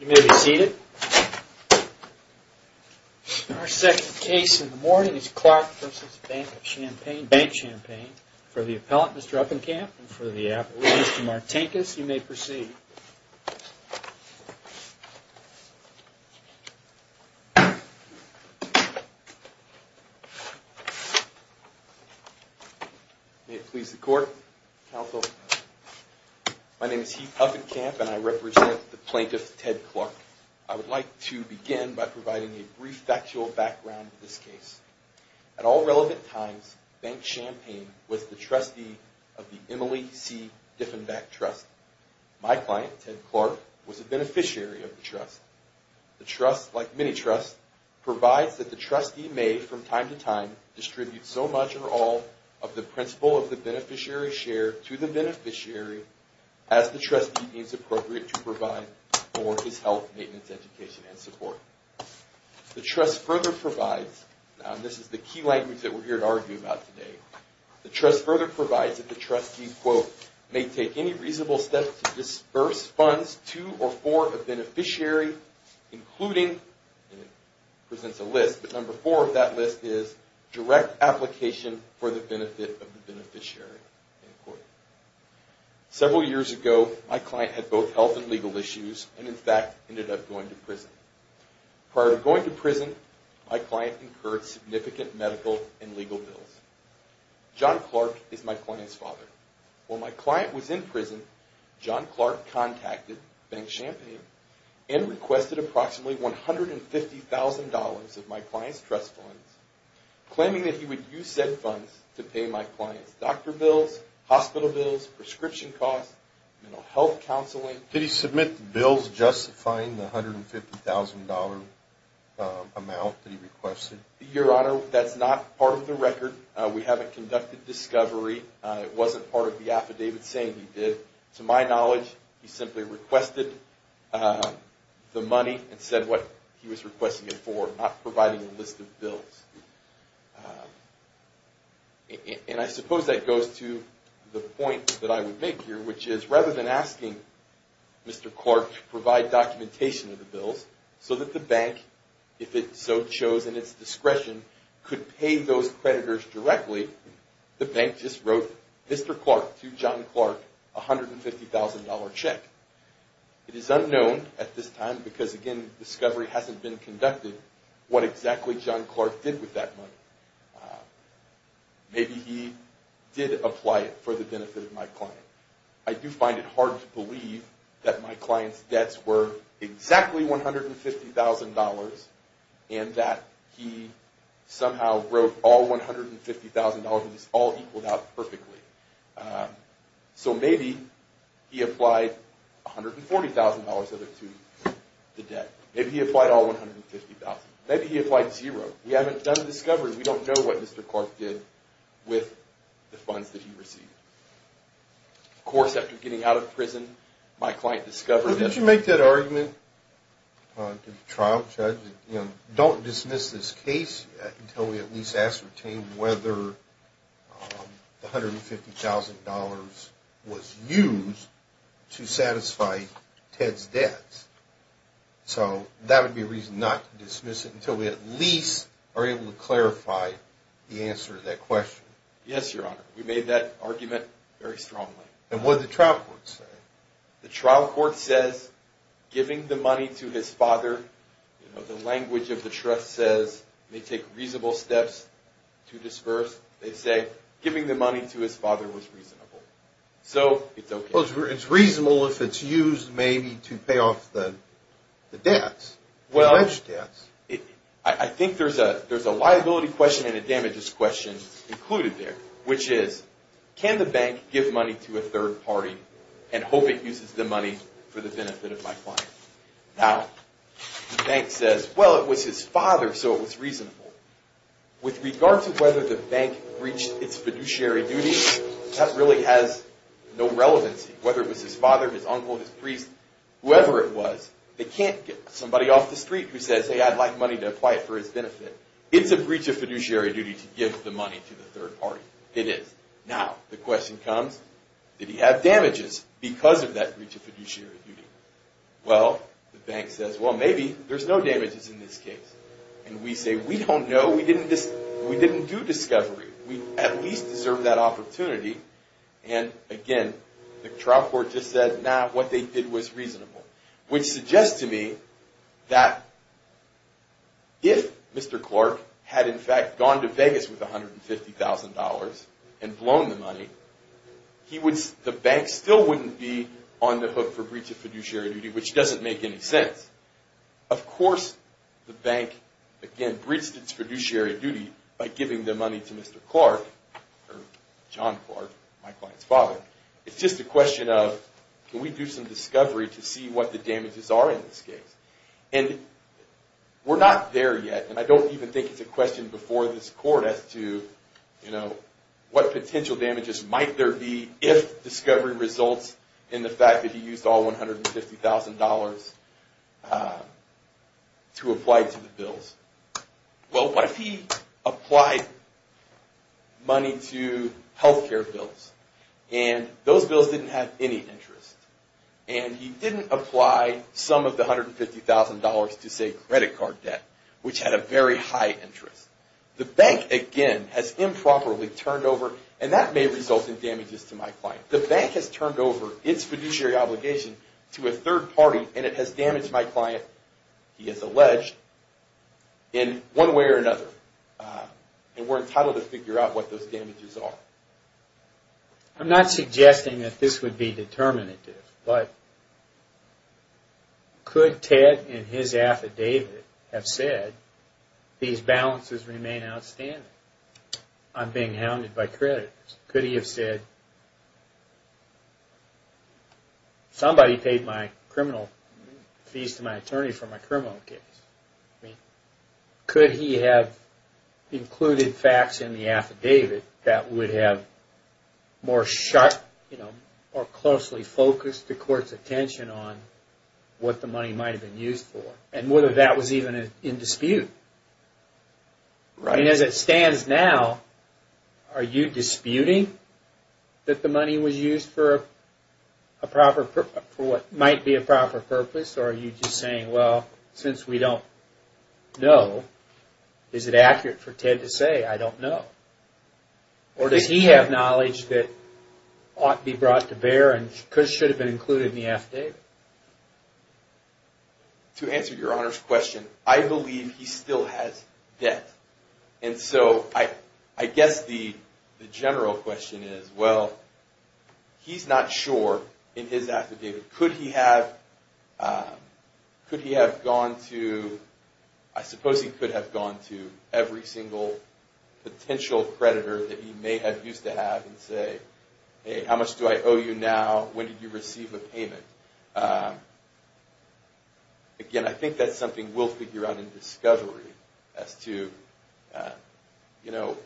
You may be seated. Our second case in the morning is Clark v. BankChampaign. For the record, BankChampaign was the trustee of the Emily C. Diffenbach Trust. My client, Ted Clark, was a beneficiary of the trust. The trust, like many trusts, provides that the share to the beneficiary as the trustee deems appropriate to provide for his health, maintenance, education, and support. The trust further provides, and this is the key language that we're here to argue about today, the trust further provides that the trustee, quote, may take any reasonable steps to disburse funds to or for a beneficiary, including, and it presents a list, but number four of that list is direct application for the benefit of the beneficiary, end quote. Several years ago, my client had both health and legal issues and, in fact, ended up going to prison. Prior to going to prison, my client incurred significant medical and legal bills. John Clark is my client's father. While my client was in prison, John Clark contacted BankChampaign and requested approximately $150,000 of my client's trust funds, claiming that he would use said funds to pay my client's doctor bills, hospital bills, prescription costs, mental health counseling. Did he submit the bills justifying the $150,000 amount that he requested? Your Honor, that's not part of the record. We haven't conducted discovery. It wasn't part of the affidavit saying he did. To my knowledge, he simply requested the money and said what he was requesting it for, not providing a list of And I suppose that goes to the point that I would make here, which is rather than asking Mr. Clark to provide documentation of the bills so that the bank, if it so chose in its discretion, could pay those creditors directly, the bank just wrote Mr. Clark to John Clark a $150,000 check. It is unknown at this time because, again, discovery hasn't been conducted what exactly John Clark did with that money. Maybe he did apply it for the benefit of my client. I do find it hard to believe that my client's debts were exactly $150,000 and that he somehow wrote all $150,000 and it's all equaled out perfectly. So maybe he applied $140,000 of it to the debt. Maybe he applied all $150,000. Maybe he applied zero. We haven't done discovery. We don't know what Mr. Clark did with the funds that he received. Of course, after getting out of prison, my client discovered... Why don't you make that argument to the trial judge that, you know, don't dismiss this case until we at least ascertain whether the $150,000 was used to satisfy Ted's debts. So that would be a reason not to dismiss it until we at least are able to clarify the answer to that question. Yes, Your Honor. We made that argument very strongly. And what did the trial court say? The trial court says, giving the money to his father, the language of the trust says, may take reasonable steps to disperse. They say, giving the money to his father was reasonable. So it's okay. Well, it's reasonable if it's used maybe to pay off the debts, the alleged debts. Well, I think there's a liability question and a damages question included there, which is, can the bank give money to a third party? I hope it uses the money for the benefit of my client. Now, the bank says, well, it was his father, so it was reasonable. With regard to whether the bank breached its fiduciary duty, that really has no relevancy. Whether it was his father, his uncle, his priest, whoever it was, they can't get somebody off the street who says, hey, I'd like money to apply it for his benefit. It's a breach of fiduciary duty to give the money to the third party. It is. Now, the question comes, did he have damages because of that breach of fiduciary duty? Well, the bank says, well, maybe there's no damages in this case. And we say, we don't know. We didn't do discovery. We at least deserve that opportunity. And again, the trial court just said, nah, what they did was reasonable. Which suggests to me that if Mr. Clark had, in fact, gone to Vegas with $150,000 and blown the money, the bank still wouldn't be on the hook for breach of fiduciary duty, which doesn't make any sense. Of course, the bank, again, breached its fiduciary duty by giving the money to Mr. Clark, or John Clark, my client's father. It's just a question of, can we do some discovery to see what the damages are in this case? And we're not there yet, and I don't even think it's a question before this court as to what potential damages might there be if discovery results in the fact that he used all $150,000 to apply to the bills. Well, what if he applied money to health care bills, and those bills didn't have any interest? And he didn't apply some of the $150,000 to, say, credit card debt, which had a very high interest. The bank, again, has improperly turned over, and that may result in damages to my client. The bank has turned over its fiduciary obligation to a third party, and it has damaged my client, he has alleged. In one way or another, and we're entitled to figure out what those damages are. I'm not suggesting that this would be determinative, but could Ted, in his affidavit, have said, these balances remain outstanding, I'm being hounded by creditors. Could he have said, somebody paid my criminal fees to my attorney for my criminal case. Could he have included facts in the affidavit that would have more closely focused the court's attention on what the money might have been used for, and whether that was even in dispute. As it stands now, are you disputing that the money was used for what might be a proper purpose, or are you just saying, well, since we don't know, is it accurate for Ted to say, I don't know. Or does he have knowledge that ought to be brought to bear and should have been included in the affidavit. To answer your Honor's question, I believe he still has debt. And so, I guess the general question is, well, he's not sure in his affidavit. Could he have gone to, I suppose he could have gone to every single potential creditor that he may have used to have and say, hey, how much do I owe you now, when did you receive a payment. Again, I think that's something we'll figure out in discovery as to, you know,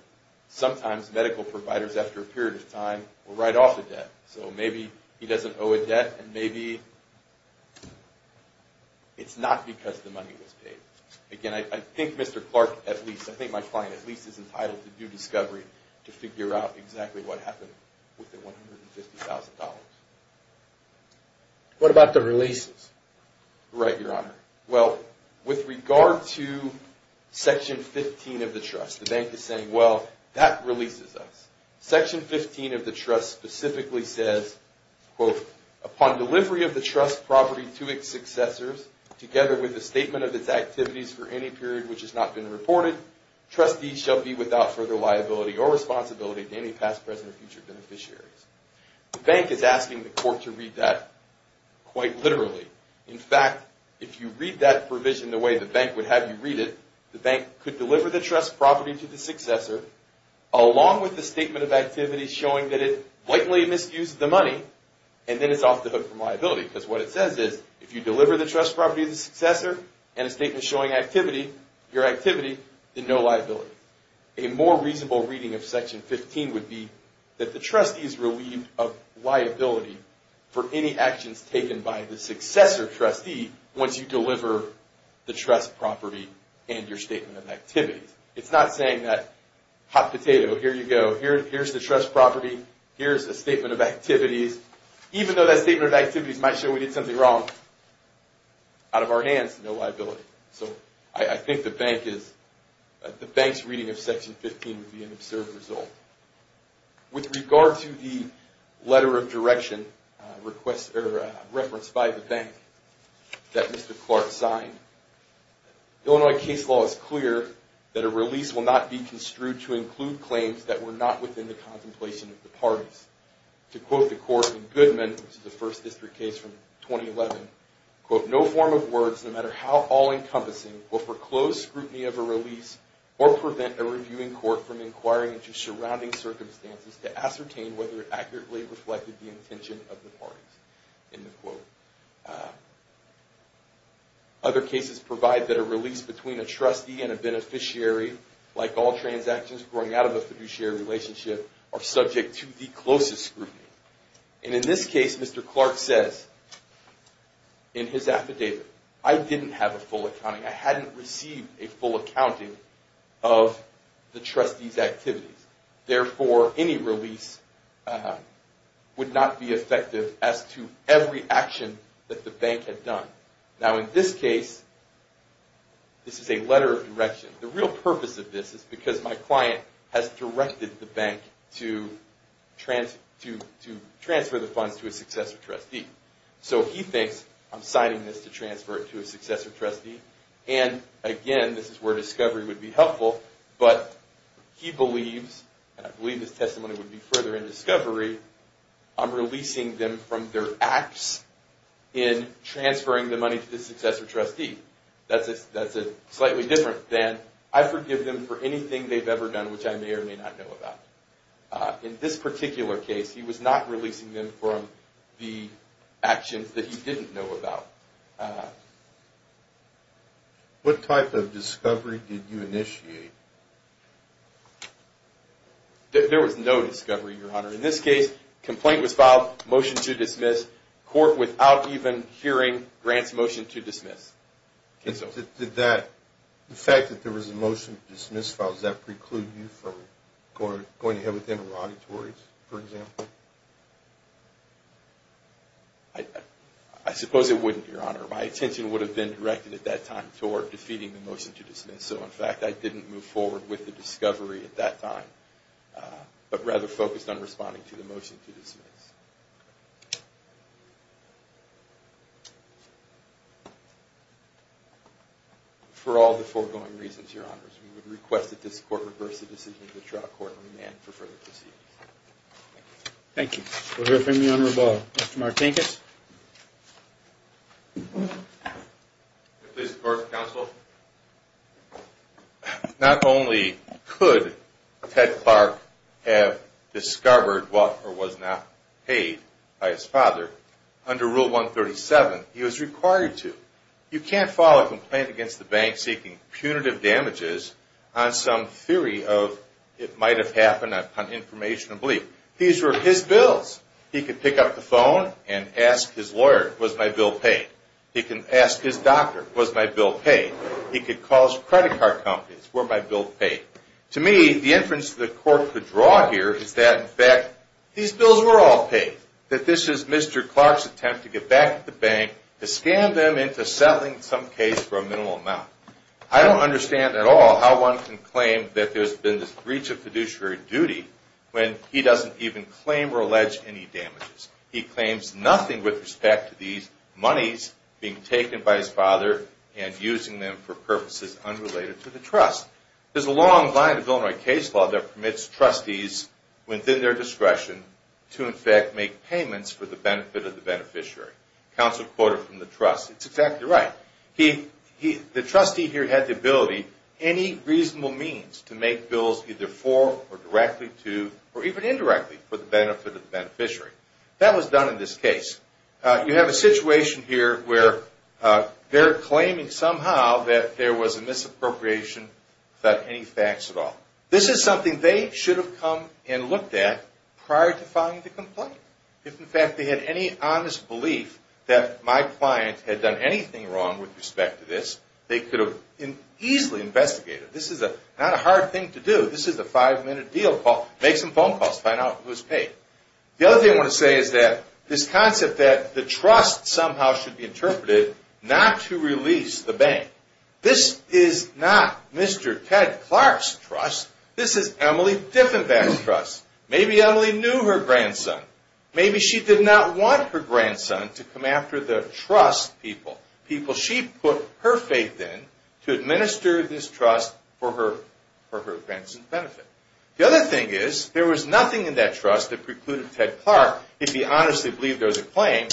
sometimes medical providers after a period of time are right off the debt. So maybe he doesn't owe a debt, and maybe it's not because the money was paid. Again, I think Mr. Clark, at least, I think my client at least is entitled to due discovery to figure out exactly what happened with the $150,000. What about the releases? Right, Your Honor. Well, with regard to Section 15 of the trust, the bank is saying, well, that releases us. Section 15 of the trust specifically says, quote, upon delivery of the trust property to its successors, together with the statement of its activities for any period which has not been reported, trustees shall be without further liability or responsibility to any past, present, or future beneficiaries. The bank is asking the court to read that quite literally. In fact, if you read that provision the way the bank would have you read it, the bank could deliver the trust property to the successor, along with the statement of activities showing that it blatantly misused the money, and then it's off the hook from liability. Because what it says is, if you deliver the trust property to the successor, and a statement showing your activity, then no liability. A more reasonable reading of Section 15 would be that the trustee is relieved of liability for any actions taken by the successor trustee once you deliver the trust property and your statement of activities. It's not saying that, hot potato, here you go, here's the trust property, here's the statement of activities. Even though that statement of activities might show we did something wrong, out of our hands, no liability. So I think the bank's reading of Section 15 would be an absurd result. With regard to the letter of direction referenced by the bank that Mr. Clark signed, the Illinois case law is clear that a release will not be construed to include claims that were not within the contemplation of the parties. To quote the court in Goodman, which is a First District case from 2011, quote, no form of words, no matter how all-encompassing, will foreclose scrutiny of a release or prevent a reviewing court from inquiring into surrounding circumstances to ascertain whether it accurately reflected the intention of the parties. End quote. Other cases provide that a release between a trustee and a beneficiary, like all transactions growing out of a fiduciary relationship, are subject to the closest scrutiny. And in this case, Mr. Clark says in his affidavit, I didn't have a full accounting. I hadn't received a full accounting of the trustee's activities. Therefore, any release would not be effective as to every action that the bank had done. Now, in this case, this is a letter of direction. The real purpose of this is because my client has directed the bank to transfer the funds to a successor trustee. So he thinks I'm signing this to transfer it to a successor trustee. And again, this is where discovery would be helpful. But he believes, and I believe this testimony would be further in discovery, I'm releasing them from their acts in transferring the money to the successor trustee. That's slightly different than I forgive them for anything they've ever done, which I may or may not know about. In this particular case, he was not releasing them from the actions that he didn't know about. What type of discovery did you initiate? There was no discovery, Your Honor. In this case, complaint was filed, motion to dismiss, court without even hearing grants motion to dismiss. Did that, the fact that there was a motion to dismiss filed, does that preclude you from going ahead with interrogatories, for example? I suppose it wouldn't, Your Honor. My attention would have been directed at that time toward defeating the motion to dismiss. So, in fact, I didn't move forward with the discovery at that time, but rather focused on responding to the motion to dismiss. For all the foregoing reasons, Your Honors, we would request that this court reverse the decision of the trial court and demand for further proceedings. Thank you. We'll hear from you on rebuttal. Mr. Martinkus? If it pleases the court and counsel, not only could Ted Clark have discovered what was not paid by his father, under Rule 137, he was required to. You can't file a complaint against the bank seeking punitive damages on some theory of it might have happened upon information of belief. These were his bills. He could pick up the phone and ask his lawyer, was my bill paid? He can ask his doctor, was my bill paid? He could call his credit card companies, were my bill paid? To me, the inference the court could draw here is that, in fact, these bills were all paid. That this is Mr. Clark's attempt to get back at the bank, to scam them into settling some case for a minimal amount. I don't understand at all how one can claim that there's been this breach of fiduciary duty when he doesn't even claim or allege any damages. He claims nothing with respect to these monies being taken by his father and using them for purposes unrelated to the trust. There's a long line of Illinois case law that permits trustees, within their discretion, to, in fact, make payments for the benefit of the beneficiary. Counsel quoted from the trust, it's exactly right. The trustee here had the ability, any reasonable means, to make bills either for, or directly to, or even indirectly for the benefit of the beneficiary. That was done in this case. You have a situation here where they're claiming somehow that there was a misappropriation without any facts at all. This is something they should have come and looked at prior to filing the complaint. If, in fact, they had any honest belief that my client had done anything wrong with respect to this, they could have easily investigated it. This is not a hard thing to do. This is a five-minute deal. Make some phone calls. Find out who's paid. The other thing I want to say is that this concept that the trust somehow should be interpreted not to release the bank. This is not Mr. Ted Clark's trust. This is Emily Diffenbach's trust. Maybe Emily knew her grandson. Maybe she did not want her grandson to come after the trust people, people she put her faith in to administer this trust for her grandson's benefit. The other thing is there was nothing in that trust that precluded Ted Clark, if he honestly believed there was a claim,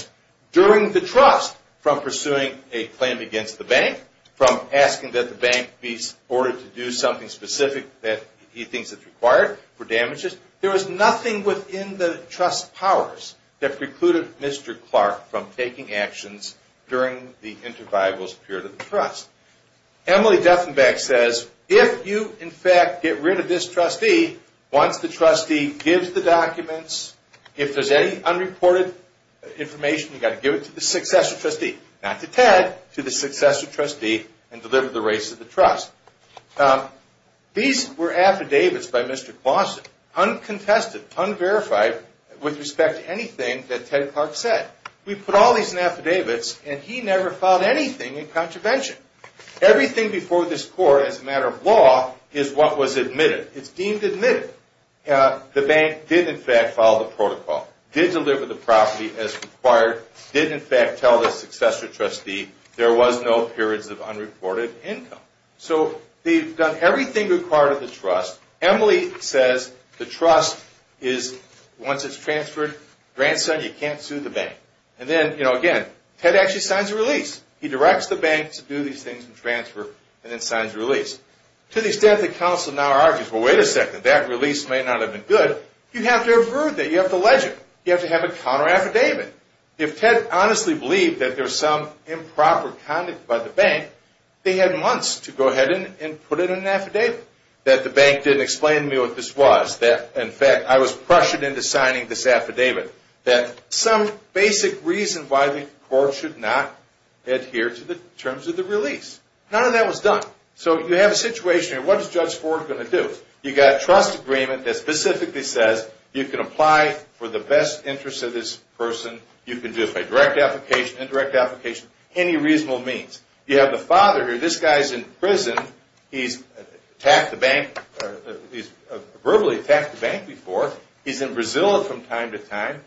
during the trust from pursuing a claim against the bank, from asking that the bank be ordered to do something specific that he thinks is required for damages. There was nothing within the trust's powers that precluded Mr. Clark from taking actions during the interviolable period of the trust. Emily Diffenbach says, if you, in fact, get rid of this trustee, once the trustee gives the documents, if there's any unreported information, you've got to give it to the successor trustee, not to Ted, to the successor trustee and deliver the rights of the trust. These were affidavits by Mr. Claussen, uncontested, unverified, with respect to anything that Ted Clark said. We put all these in affidavits, and he never filed anything in contravention. Everything before this court, as a matter of law, is what was admitted. It's deemed admitted. The bank did, in fact, follow the protocol, did deliver the property as required, did, in fact, tell the successor trustee there was no periods of unreported income. So they've done everything required of the trust. Emily says the trust is, once it's transferred, grandson, you can't sue the bank. And then, you know, again, Ted actually signs the release. He directs the bank to do these things and transfer and then signs the release. To the extent that counsel now argues, well, wait a second, that release may not have been good, you have to avert that, you have to allege it, you have to have a counter-affidavit. If Ted honestly believed that there was some improper conduct by the bank, they had months to go ahead and put it in an affidavit, that the bank didn't explain to me what this was, that, in fact, I was pressured into signing this affidavit, that some basic reason why the court should not adhere to the terms of the release. None of that was done. So you have a situation here. What is Judge Ford going to do? You've got a trust agreement that specifically says you can apply for the best interest of this person, you can do it by direct application, indirect application, any reasonable means. You have the father here. This guy's in prison. He's verbally attacked the bank before. He's in Brazil from time to time.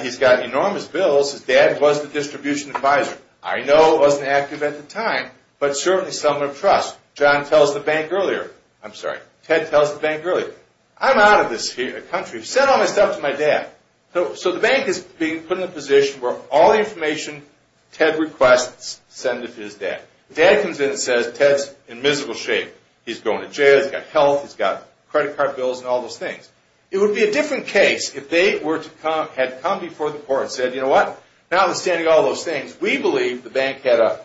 He's got enormous bills. His dad was the distribution advisor. I know it wasn't active at the time, but certainly someone of trust. John tells the bank earlier. I'm sorry, Ted tells the bank earlier. I'm out of this country. Send all my stuff to my dad. So the bank is being put in a position where all the information Ted requests is sent to his dad. Dad comes in and says Ted's in miserable shape. He's going to jail. He's got health. He's got credit card bills and all those things. It would be a different case if they had come before the court and said, you know what, notwithstanding all those things, we believe the bank had a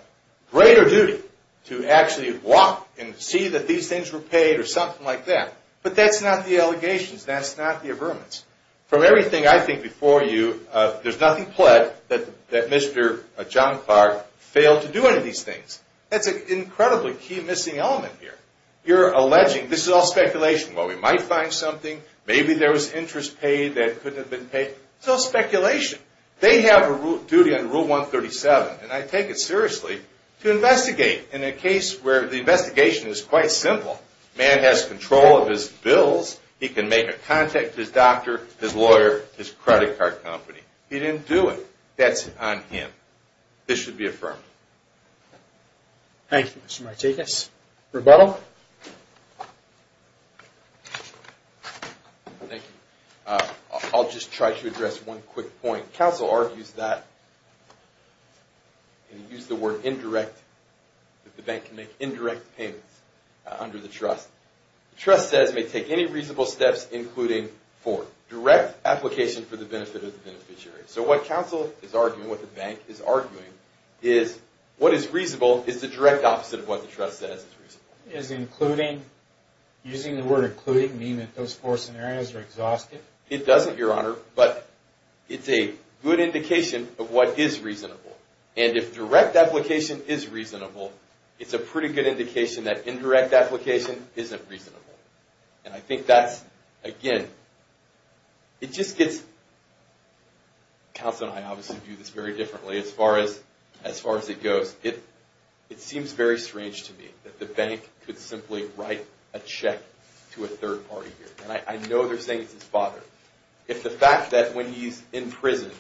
greater duty to actually walk and see that these things were paid or something like that. But that's not the allegations. That's not the averments. From everything I think before you, there's nothing pled that Mr. John Clark failed to do any of these things. That's an incredibly key missing element here. You're alleging this is all speculation. Well, we might find something. Maybe there was interest paid that couldn't have been paid. It's all speculation. They have a duty under Rule 137, and I take it seriously, to investigate in a case where the investigation is quite simple. A man has control of his bills. He can make a contact to his doctor, his lawyer, his credit card company. He didn't do it. That's on him. This should be affirmed. Thank you, Mr. Martekis. Rebuttal? Thank you. I'll just try to address one quick point. Counsel argues that, and he used the word indirect, that the bank can make indirect payments under the trust. The trust says it may take any reasonable steps, including four. Direct application for the benefit of the beneficiary. So what counsel is arguing, what the bank is arguing, is what is reasonable is the direct opposite of what the trust says is reasonable. Is including, using the word including, meaning that those four scenarios are exhaustive? It doesn't, Your Honor, but it's a good indication of what is reasonable. And if direct application is reasonable, it's a pretty good indication that indirect application isn't reasonable. And I think that's, again, it just gets, counsel and I obviously view this very differently as far as it goes. It seems very strange to me that the bank could simply write a check to a third party here. And I know they're saying it's his father. If the fact that when he's in prison,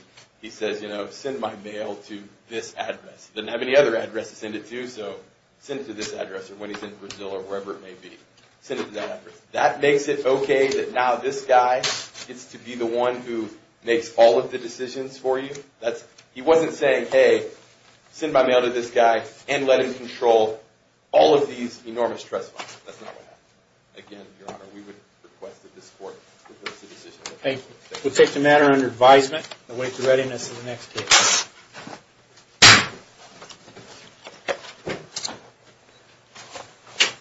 he says, you know, send my mail to this address. He doesn't have any other address to send it to, so send it to this address. Or when he's in Brazil or wherever it may be, send it to that address. That makes it okay that now this guy gets to be the one who makes all of the decisions for you? He wasn't saying, hey, send my mail to this guy and let him control all of these enormous trust funds. That's not what happened. Again, Your Honor, we would request that this court reverse the decision. Thank you. We'll take the matter under advisement and await the readiness of the next case.